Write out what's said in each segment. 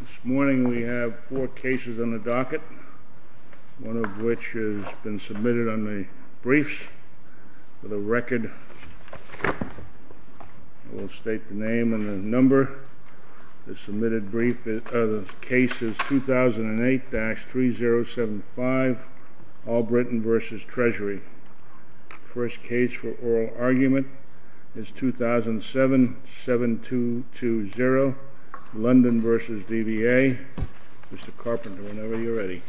This morning we have four cases on the docket, one of which has been submitted on the briefs. For the record, I will state the name and the number. The submitted brief of the case is 2008-3075, All Britain v. Treasury. The first case for oral argument is 2007-7220, London v. DVA. Mr. Carpenter, whenever you're ready.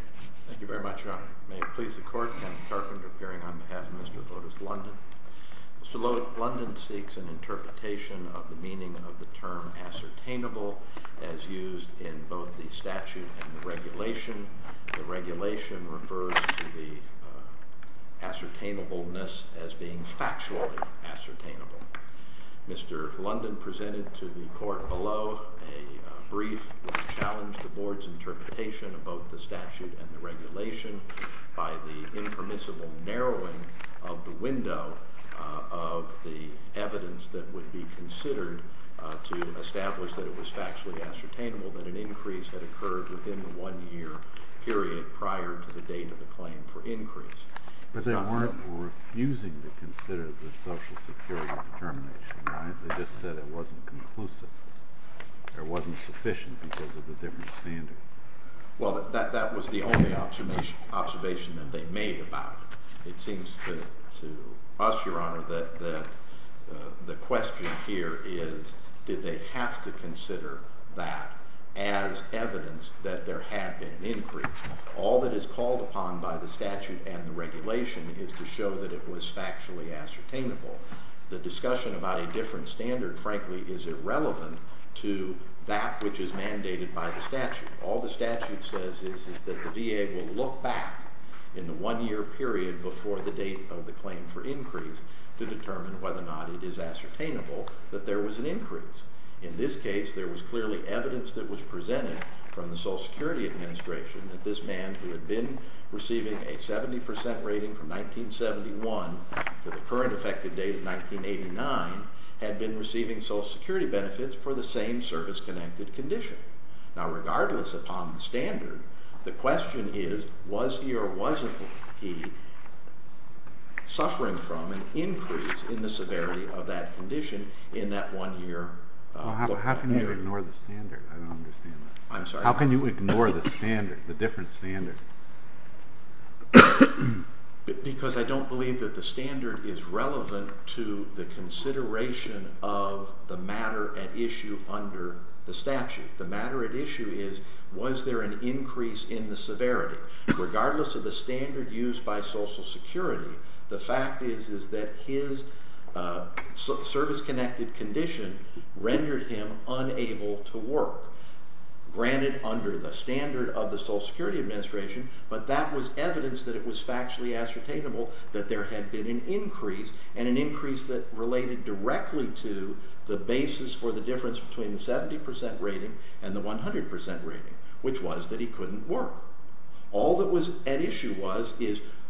Thank you very much, Your Honor. May it please the Court, Kevin Carpenter appearing on behalf of Mr. Lotus London. Mr. Lotus London seeks an interpretation of the meaning of the term ascertainable as used in both the statute and the regulation. The regulation refers to the ascertainableness as being factually ascertainable. Mr. London presented to the Court below a brief which challenged the Board's interpretation of both the statute and the regulation by the impermissible narrowing of the window of the evidence that would be considered to establish that it was factually ascertainable that an increase had occurred within the one-year period prior to the date of the claim for increase. But they weren't refusing to consider the Social Security determination, right? They just said it wasn't conclusive. It wasn't sufficient because of the different standards. Well, that was the only observation that they made about it. It seems to us, Your Honor, that the question here is did they have to consider that as evidence that there had been an increase. All that is called upon by the statute and the regulation is to show that it was factually ascertainable. The discussion about a different standard, frankly, is irrelevant to that which is mandated by the statute. All the statute says is that the VA will look back in the one-year period before the date of the claim for increase to determine whether or not it is ascertainable that there was an increase. In this case, there was clearly evidence that was presented from the Social Security Administration that this man who had been receiving a 70% rating from 1971 to the current effective date of 1989 had been receiving Social Security benefits for the same service-connected condition. Now, regardless upon the standard, the question is was he or wasn't he suffering from an increase in the severity of that condition in that one-year period. How can you ignore the standard? I don't understand that. I'm sorry? How can you ignore the standard, the different standard? Because I don't believe that the standard is relevant to the consideration of the matter at issue under the statute. The matter at issue is was there an increase in the severity. Regardless of the standard used by Social Security, the fact is that his service-connected condition rendered him unable to work. Granted, under the standard of the Social Security Administration, but that was evidence that it was factually ascertainable that there had been an increase, and an increase that related directly to the basis for the difference between the 70% rating and the 100% rating, which was that he couldn't work. All that was at issue was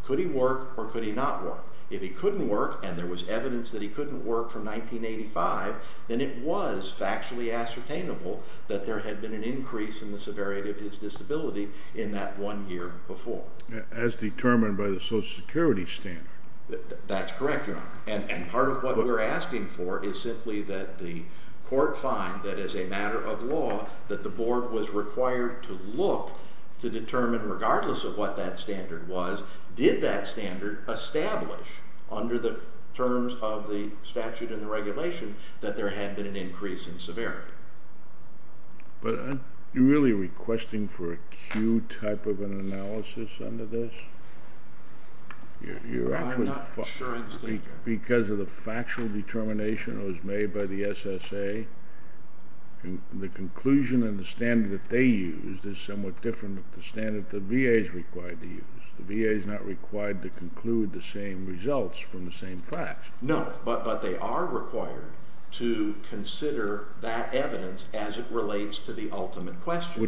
could he work or could he not work. If he couldn't work, and there was evidence that he couldn't work from 1985, then it was factually ascertainable that there had been an increase in the severity of his disability in that one year before. As determined by the Social Security standard. That's correct, Your Honor. And part of what we're asking for is simply that the court find that as a matter of law, that the board was required to look to determine regardless of what that standard was, did that standard establish under the terms of the statute and the regulation that there had been an increase in severity. But are you really requesting for acute type of an analysis under this? I'm not sure I understand you. Because of the factual determination that was made by the SSA, the conclusion and the standard that they used is somewhat different than the standard the VA is required to use. The VA is not required to conclude the same results from the same facts. No, but they are required to consider that evidence as it relates to the ultimate question.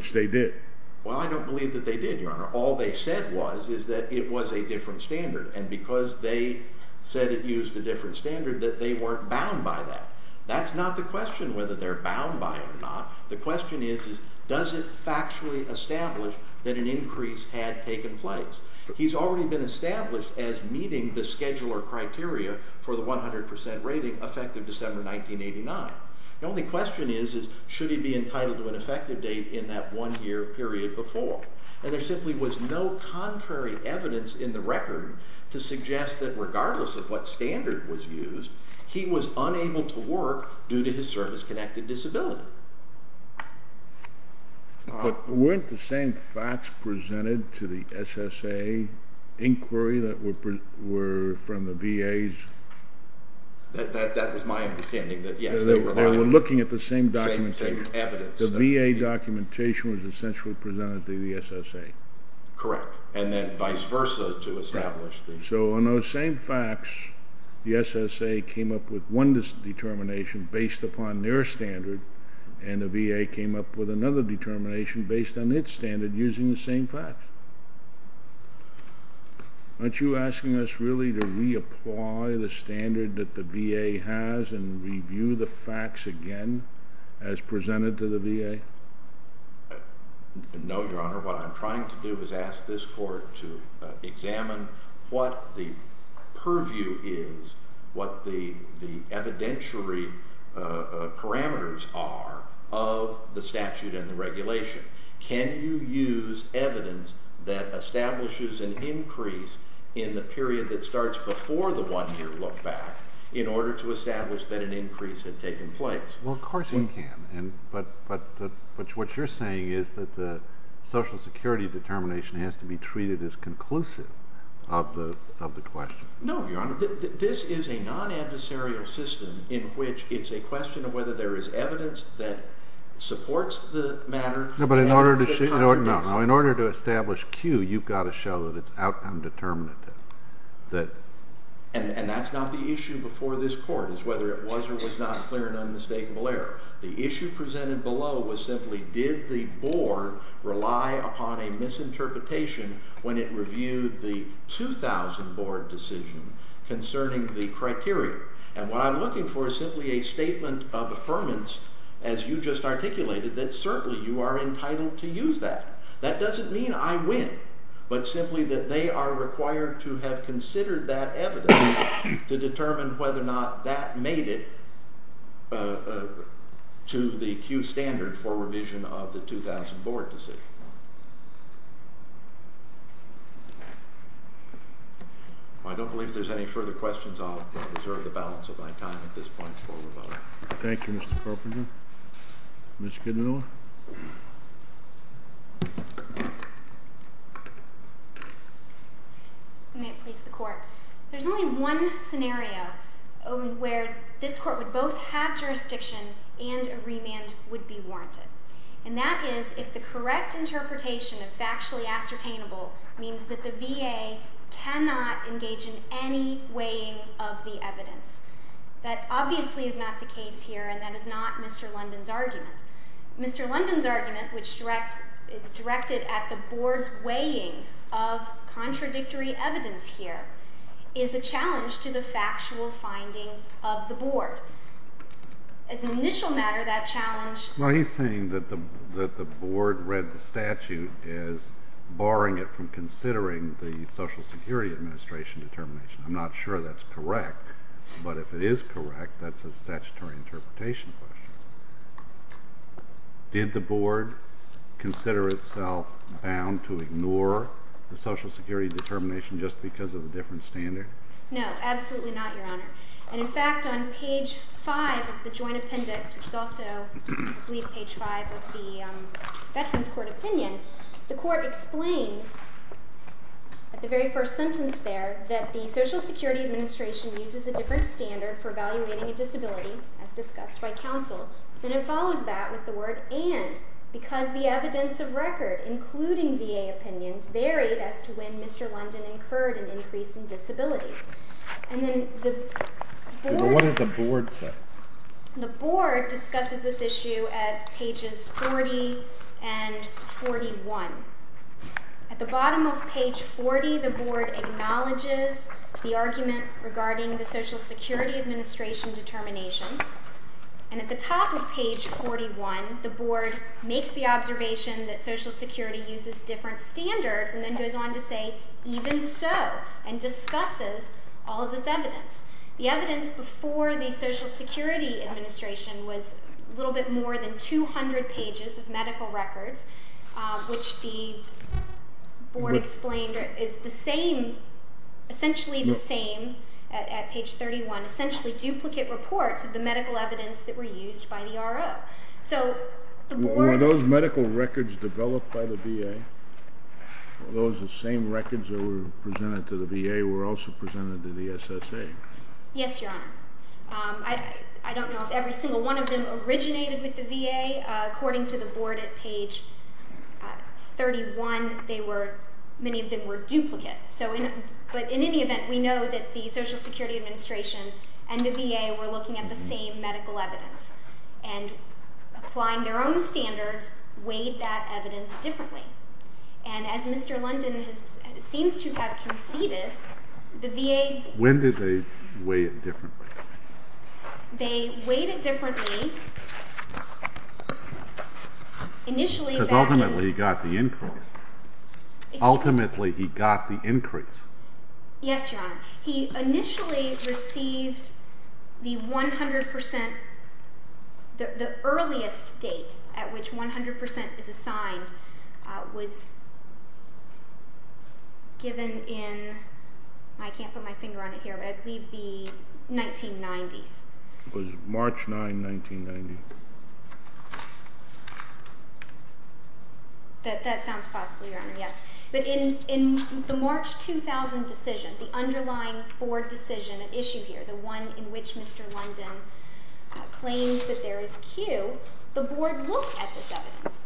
Well, I don't believe that they did, Your Honor. All they said was that it was a different standard. And because they said it used a different standard, that they weren't bound by that. That's not the question whether they're bound by it or not. The question is, does it factually establish that an increase had taken place? He's already been established as meeting the scheduler criteria for the 100% rating effective December 1989. The only question is, should he be entitled to an effective date in that one year period before? And there simply was no contrary evidence in the record to suggest that regardless of what standard was used, he was unable to work due to his service-connected disability. But weren't the same facts presented to the SSA inquiry that were from the VA's... That was my understanding, that yes, they were... They were looking at the same documentation. Same evidence. The VA documentation was essentially presented to the SSA. Correct. And then vice versa to establish the... So on those same facts, the SSA came up with one determination based upon their standard, and the VA came up with another determination based on its standard using the same facts. Aren't you asking us really to reapply the standard that the VA has and review the facts again as presented to the VA? No, Your Honor. What I'm trying to do is ask this court to examine what the purview is, what the evidentiary parameters are of the statute and the regulation. Can you use evidence that establishes an increase in the period that starts before the one-year lookback in order to establish that an increase had taken place? Well, of course you can, but what you're saying is that the Social Security determination has to be treated as conclusive of the question. No, Your Honor. This is a non-adversarial system in which it's a question of whether there is evidence that supports the matter... No, but in order to establish Q, you've got to show that it's outcome determinative. And that's not the issue before this court, is whether it was or was not a clear and unmistakable error. The issue presented below was simply, did the Board rely upon a misinterpretation when it reviewed the 2000 Board decision concerning the criteria? And what I'm looking for is simply a statement of affirmance, as you just articulated, that certainly you are entitled to use that. That doesn't mean I win, but simply that they are required to have considered that evidence to determine whether or not that made it to the Q standard for revision of the 2000 Board decision. I don't believe there's any further questions. I'll reserve the balance of my time at this point for rebuttal. Thank you, Mr. Carpenter. Mr. Kidnoll? May it please the Court. There's only one scenario where this Court would both have jurisdiction and a remand would be warranted, and that is if the correct interpretation of factually ascertainable means that the VA cannot engage in any weighing of the evidence. That obviously is not the case here, and that is not Mr. London's argument. Mr. London's argument, which is directed at the Board's weighing of contradictory evidence here, is a challenge to the factual finding of the Board. As an initial matter, that challenge... Well, he's saying that the Board read the statute as barring it from considering the Social Security Administration determination. I'm not sure that's correct, but if it is correct, that's a statutory interpretation question. Did the Board consider itself bound to ignore the Social Security determination just because of a different standard? No, absolutely not, Your Honor. And in fact, on page 5 of the Joint Appendix, which is also, I believe, page 5 of the Veterans Court opinion, the Court explains at the very first sentence there that the Social Security Administration uses a different standard for evaluating a disability, as discussed by counsel, and it follows that with the word and because the evidence of record, including VA opinions, varied as to when Mr. London incurred an increase in disability. And then the Board... What did the Board say? The Board discusses this issue at pages 40 and 41. At the bottom of page 40, the Board acknowledges the argument regarding the Social Security Administration determination, and at the top of page 41, the Board makes the observation that Social Security uses different standards and then goes on to say, even so, and discusses all of this evidence. The evidence before the Social Security Administration was a little bit more than 200 pages of medical records, which the Board explained is the same, essentially the same, at page 31, essentially duplicate reports of the medical evidence that were used by the RO. So the Board... Were those medical records developed by the VA? Were those the same records that were presented to the VA were also presented to the SSA? Yes, Your Honor. I don't know if every single one of them originated with the VA. According to the Board at page 31, many of them were duplicate. But in any event, we know that the Social Security Administration and the VA were looking at the same medical evidence and, applying their own standards, weighed that evidence differently. And as Mr. London seems to have conceded, the VA... When did they weigh it differently? They weighed it differently... Because ultimately he got the increase. Ultimately he got the increase. Yes, Your Honor. He initially received the 100%... The earliest date at which 100% is assigned was given in... I can't put my finger on it here, but I believe the 1990s. It was March 9, 1990. That sounds possible, Your Honor, yes. But in the March 2000 decision, the underlying Board decision at issue here, the one in which Mr. London claims that there is Q, the Board looked at this evidence.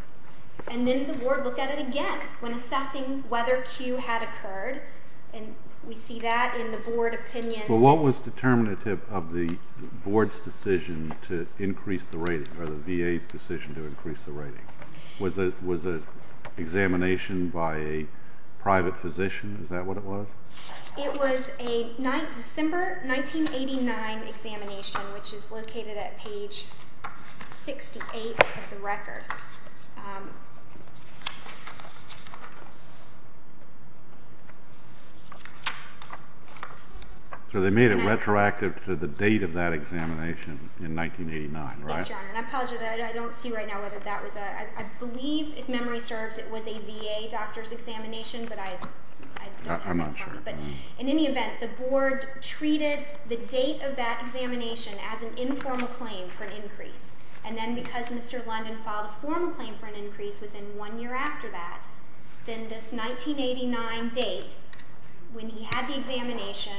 And then the Board looked at it again when assessing whether Q had occurred. And we see that in the Board opinion... But what was determinative of the Board's decision to increase the rating, or the VA's decision to increase the rating? Was it an examination by a private physician? Is that what it was? It was a December 1989 examination, which is located at page 68 of the record. So they made it retroactive to the date of that examination in 1989, right? Yes, Your Honor, and I apologize. I don't see right now whether that was a... I believe, if memory serves, it was a VA doctor's examination, but I don't have that in front of me. I'm not sure. But in any event, the Board treated the date of that examination as an informal claim for an increase. And then because Mr. London filed a formal claim for an increase within one year after that, then this 1989 date, when he had the examination...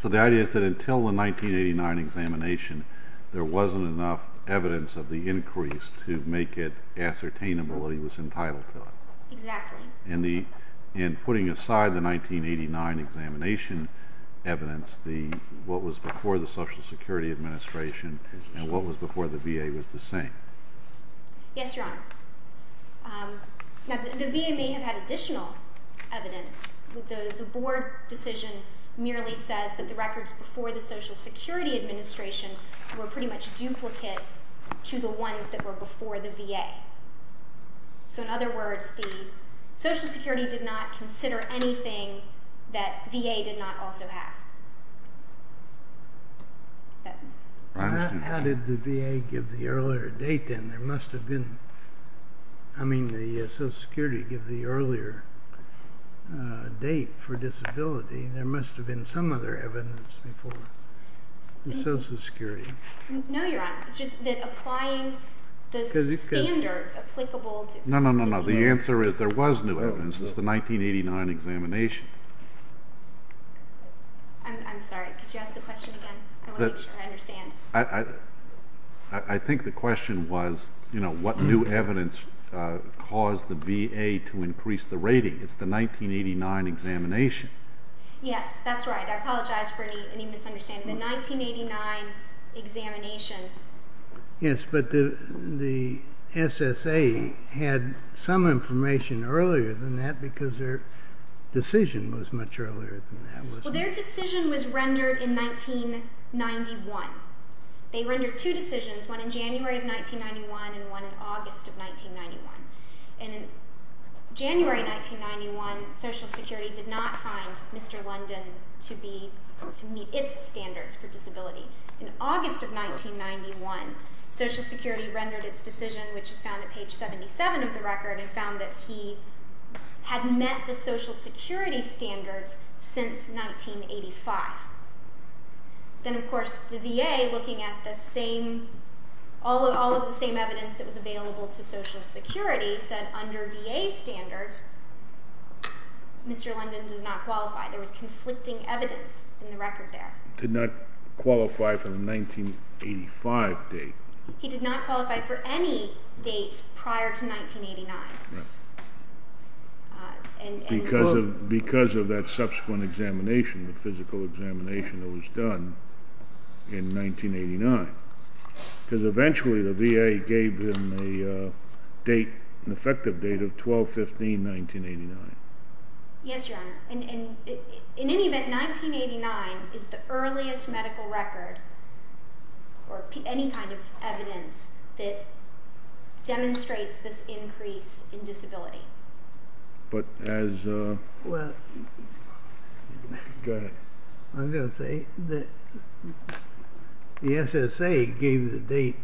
So the idea is that until the 1989 examination, there wasn't enough evidence of the increase to make it ascertainable that he was entitled to it. Exactly. And putting aside the 1989 examination evidence, what was before the Social Security Administration and what was before the VA was the same. Yes, Your Honor. Now, the VA may have had additional evidence. The Board decision merely says that the records before the Social Security Administration were pretty much duplicate to the ones that were before the VA. So in other words, the Social Security did not consider anything that VA did not also have. How did the VA give the earlier date then? There must have been... I mean, the Social Security gave the earlier date for disability. There must have been some other evidence before. The Social Security. No, Your Honor. It's just that applying the standards applicable to... No, no, no, no. The answer is there was new evidence. It's the 1989 examination. I'm sorry. Could you ask the question again? I want to make sure I understand. I think the question was, you know, what new evidence caused the VA to increase the rating. It's the 1989 examination. Yes, that's right. I apologize for any misunderstanding. The 1989 examination. Yes, but the SSA had some information earlier than that because their decision was much earlier than that. Well, their decision was rendered in 1991. They rendered two decisions, one in January of 1991 and one in August of 1991. And in January 1991, Social Security did not find Mr. London to meet its standards for disability. In August of 1991, Social Security rendered its decision, which is found at page 77 of the record, and found that he had met the Social Security standards since 1985. Then, of course, the VA, looking at all of the same evidence that was available to Social Security, said under VA standards, Mr. London does not qualify. There was conflicting evidence in the record there. Did not qualify for the 1985 date. He did not qualify for any date prior to 1989. Because of that subsequent examination, the physical examination that was done in 1989. Because eventually the VA gave him an effective date of 12-15-1989. Yes, Your Honor. In any event, 1989 is the earliest medical record or any kind of evidence that demonstrates this increase in disability. But as... Go ahead. I was going to say, the SSA gave the date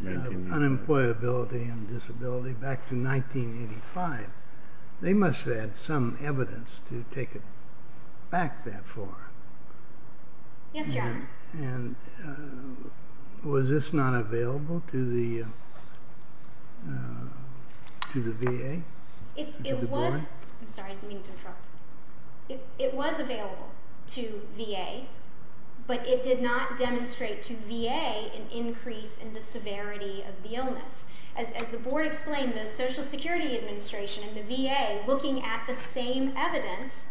of unemployability and disability back to 1985. They must have had some evidence to take it back that far. Yes, Your Honor. And was this not available to the VA? It was. I'm sorry, I didn't mean to interrupt. It was available to VA, but it did not demonstrate to VA an increase in the severity of the illness. As the Board explained, the Social Security Administration and the VA, looking at the same evidence,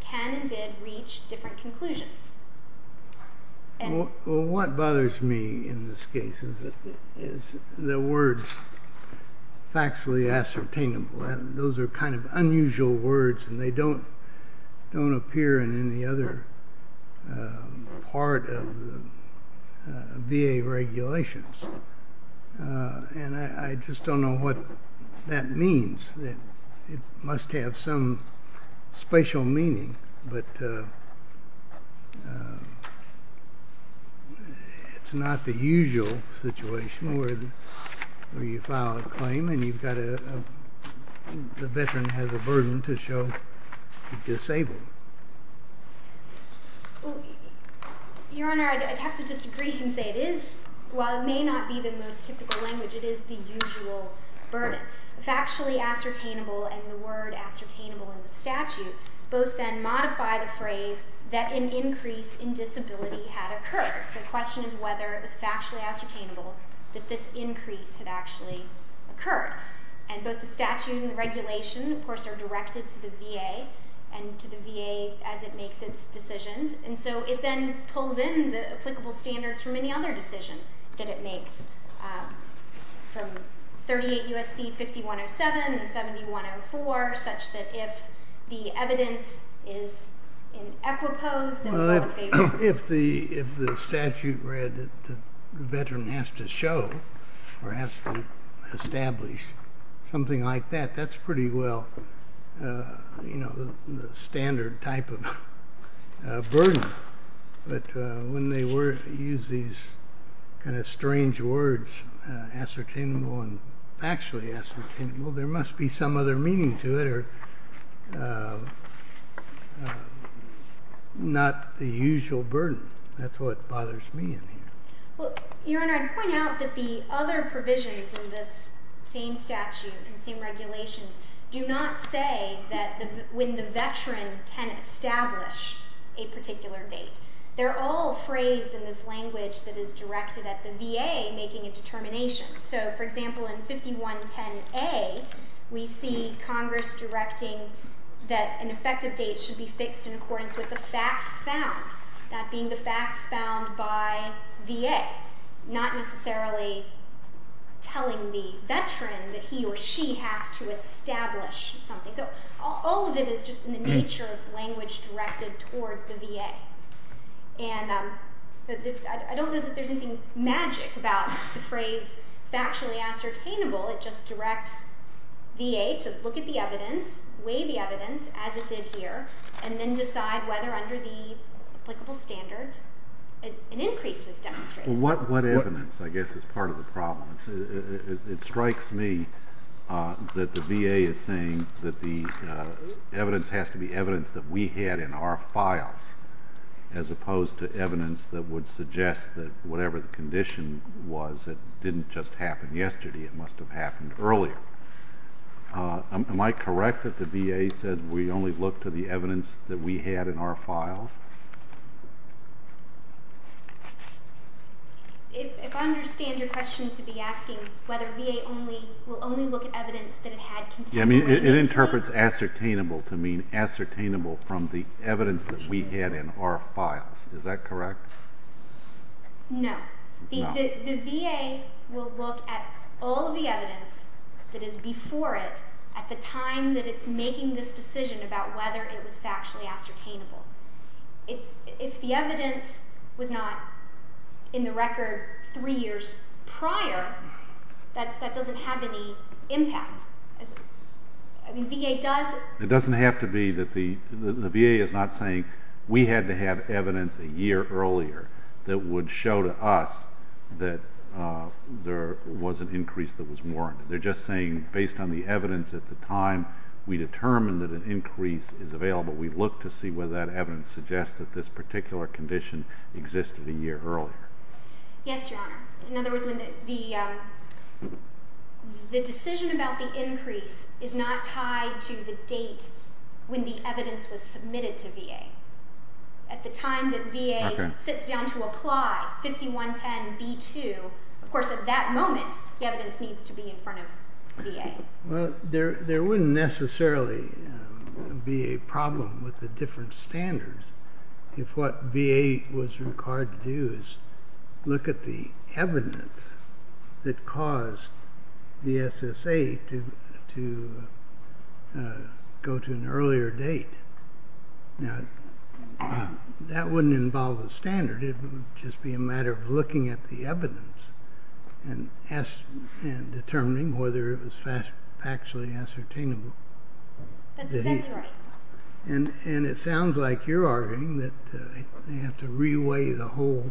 can and did reach different conclusions. What bothers me in this case is the words, factually ascertainable. Those are kind of unusual words and they don't appear in any other part of the VA regulations. And I just don't know what that means. It must have some special meaning, but it's not the usual situation where you file a claim and the veteran has a burden to show he's disabled. Your Honor, I'd have to disagree and say it is, while it may not be the most typical language, it is the usual burden. Factually ascertainable and the word ascertainable in the statute both then modify the phrase that an increase in disability had occurred. The question is whether it was factually ascertainable that this increase had actually occurred. And both the statute and the regulation, of course, are directed to the VA and to the VA as it makes its decisions. And so it then pulls in the applicable standards from any other decision that it makes, from 38 U.S.C. 5107 and 7104, such that if the evidence is in equipoise, then we want to favor it. If the statute read that the veteran has to show or has to establish something like that, that's pretty well the standard type of burden. But when they use these kind of strange words, ascertainable and factually ascertainable, there must be some other meaning to it or not the usual burden. That's what bothers me in here. Your Honor, I'd point out that the other provisions in this same statute and same regulations do not say when the veteran can establish a particular date. They're all phrased in this language that is directed at the VA making a determination. So, for example, in 5110A, we see Congress directing that an effective date should be fixed in accordance with the facts found, that being the facts found by VA, not necessarily telling the veteran that he or she has to establish something. So all of it is just in the nature of language directed toward the VA. I don't know that there's anything magic about the phrase factually ascertainable. It just directs VA to look at the evidence, weigh the evidence as it did here, and then decide whether under the applicable standards an increase was demonstrated. What evidence, I guess, is part of the problem? It strikes me that the VA is saying that the evidence has to be evidence that we had in our files as opposed to evidence that would suggest that whatever the condition was, it didn't just happen yesterday. It must have happened earlier. Am I correct that the VA says we only look to the evidence that we had in our files? If I understand your question to be asking whether VA will only look at evidence that it had contained evidence. It interprets ascertainable to mean ascertainable from the evidence that we had in our files. Is that correct? No. The VA will look at all of the evidence that is before it at the time that it's making this decision about whether it was factually ascertainable. If the evidence was not in the record three years prior, that doesn't have any impact. I mean, VA does... It doesn't have to be that the VA is not saying we had to have evidence a year earlier that would show to us that there was an increase that was warranted. They're just saying based on the evidence at the time we determined that an increase is available, we look to see whether that evidence suggests that this particular condition existed a year earlier. Yes, Your Honor. In other words, the decision about the increase is not tied to the date when the evidence was submitted to VA. At the time that VA sits down to apply 5110B2, of course at that moment the evidence needs to be in front of VA. There wouldn't necessarily be a problem with the different standards if what VA was required to do is look at the evidence that caused the SSA to go to an earlier date. Now, that wouldn't involve a standard. It would just be a matter of looking at the evidence and determining whether it was factually ascertainable. That's exactly right. And it sounds like you're arguing that they have to reweigh the whole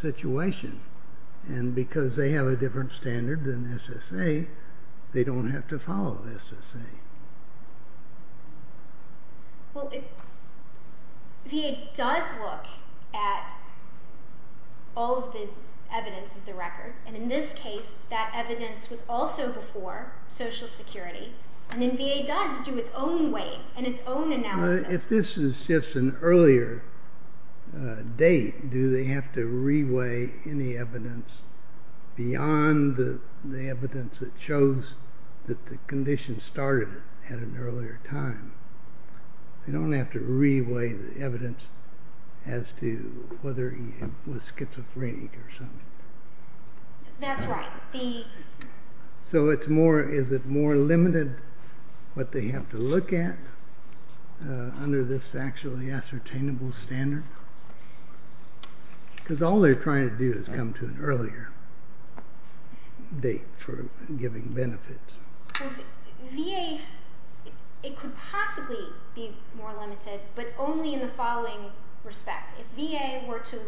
situation. And because they have a different standard than SSA, they don't have to follow SSA. Well, VA does look at all of the evidence of the record. And in this case, that evidence was also before Social Security. And then VA does do its own weight and its own analysis. If this is just an earlier date, do they have to reweigh any evidence beyond the evidence that shows that the condition started at an earlier time? They don't have to reweigh the evidence as to whether he was schizophrenic or something. That's right. So is it more limited what they have to look at under this factually ascertainable standard? Because all they're trying to do is come to an earlier date for giving benefits. Well, VA, it could possibly be more limited, but only in the following respect. If VA were to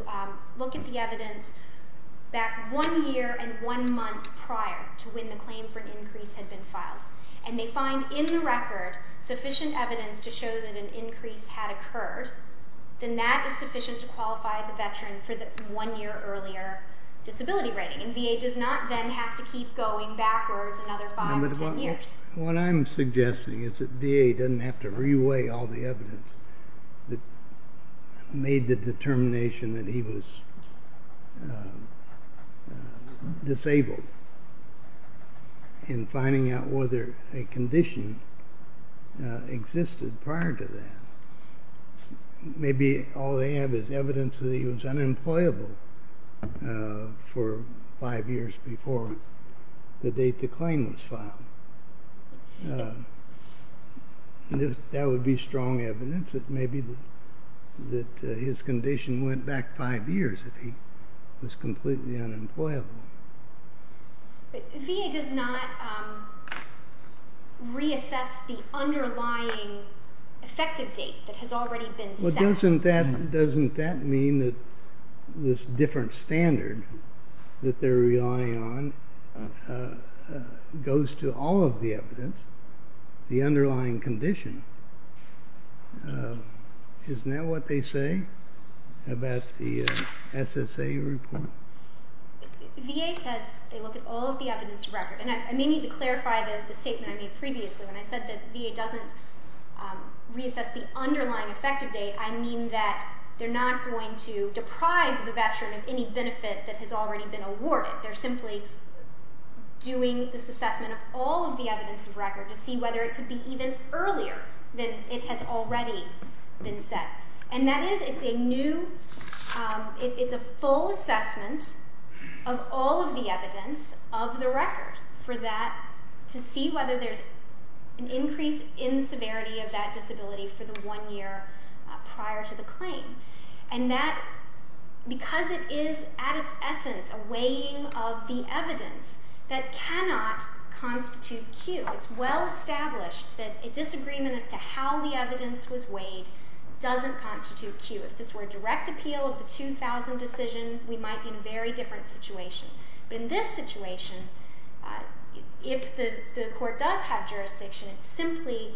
look at the evidence back one year and one month prior to when the claim for an increase had been filed, and they find in the record sufficient evidence to show that an increase had occurred, then that is sufficient to qualify the Veteran for the one-year earlier disability rating. And VA does not then have to keep going backwards another five or ten years. What I'm suggesting is that VA doesn't have to reweigh all the evidence that made the determination that he was disabled in finding out whether a condition existed prior to that. Maybe all they have is evidence that he was unemployable for five years before the date the claim was filed. That would be strong evidence that maybe his condition went back five years if he was completely unemployable. But VA does not reassess the underlying effective date that has already been set. Well, doesn't that mean that this different standard that they're relying on goes to all of the evidence, the underlying condition? Isn't that what they say about the SSA report? VA says they look at all of the evidence in the record. And I may need to clarify the statement I made previously when I said that VA doesn't reassess the underlying effective date. I mean that they're not going to deprive the Veteran of any benefit that has already been awarded. They're simply doing this assessment of all of the evidence of record to see whether it could be even earlier than it has already been set. And that is it's a full assessment of all of the evidence of the record to see whether there's an increase in severity of that disability for the one year prior to the claim. And that because it is at its essence a weighing of the evidence that cannot constitute Q. It's well established that a disagreement as to how the evidence was weighed doesn't constitute Q. If this were a direct appeal of the 2000 decision, we might be in a very different situation. But in this situation, if the court does have jurisdiction, it's simply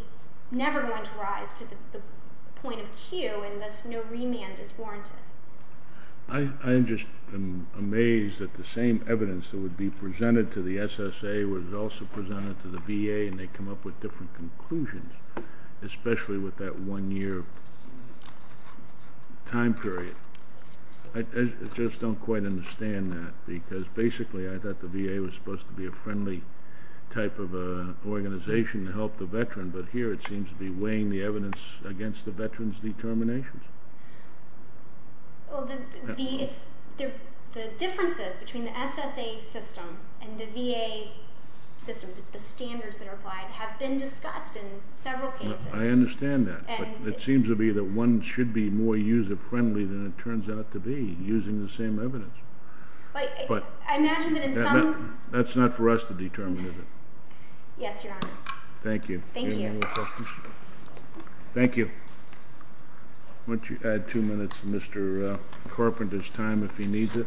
never going to rise to the point of Q and thus no remand is warranted. I'm just amazed that the same evidence that would be presented to the SSA was also presented to the VA, and they come up with different conclusions, especially with that one year time period. I just don't quite understand that because basically I thought the VA was supposed to be a friendly type of organization to help the Veteran, but here it seems to be weighing the evidence against the Veteran's determinations. The differences between the SSA system and the VA system, the standards that are applied, have been discussed in several cases. I understand that, but it seems to be that one should be more user-friendly than it turns out to be using the same evidence. I imagine that in some... That's not for us to determine. Yes, Your Honor. Thank you. Thank you. Any more questions? Thank you. Why don't you add two minutes to Mr. Carpenter's time if he needs it.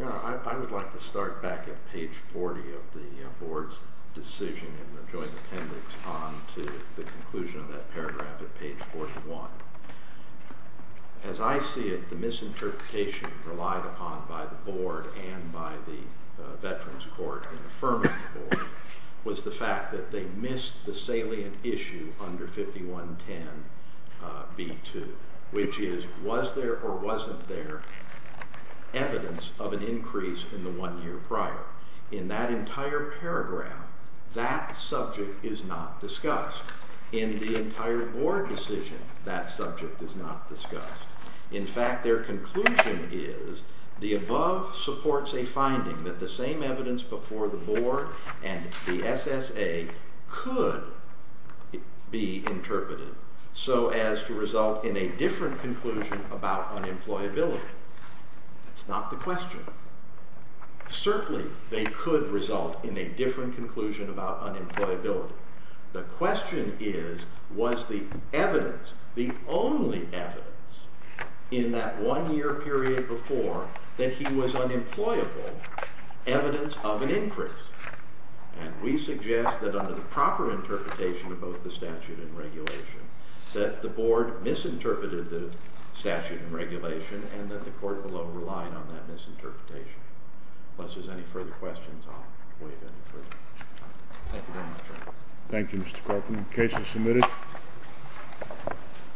I would like to start back at page 40 of the board's decision in the joint appendix on to the conclusion of that paragraph at page 41. As I see it, the misinterpretation relied upon by the board and by the Veterans Court and the Affirmative Board was the fact that they missed the salient issue under 5110B2, which is was there or wasn't there evidence of an increase in the one year prior. In that entire paragraph, that subject is not discussed. In the entire board decision, that subject is not discussed. In fact, their conclusion is the above supports a finding that the same evidence before the board and the SSA could be interpreted so as to result in a different conclusion about unemployability. That's not the question. Certainly, they could result in a different conclusion about unemployability. The question is was the evidence, the only evidence, in that one year period before that he was unemployable evidence of an increase. We suggest that under the proper interpretation of both the statute and regulation that the board misinterpreted the statute and regulation and that the court below relied on that misinterpretation. Unless there's any further questions, I'll waive any further. Thank you very much, Your Honor. Thank you, Mr. Corcoran. The case is submitted.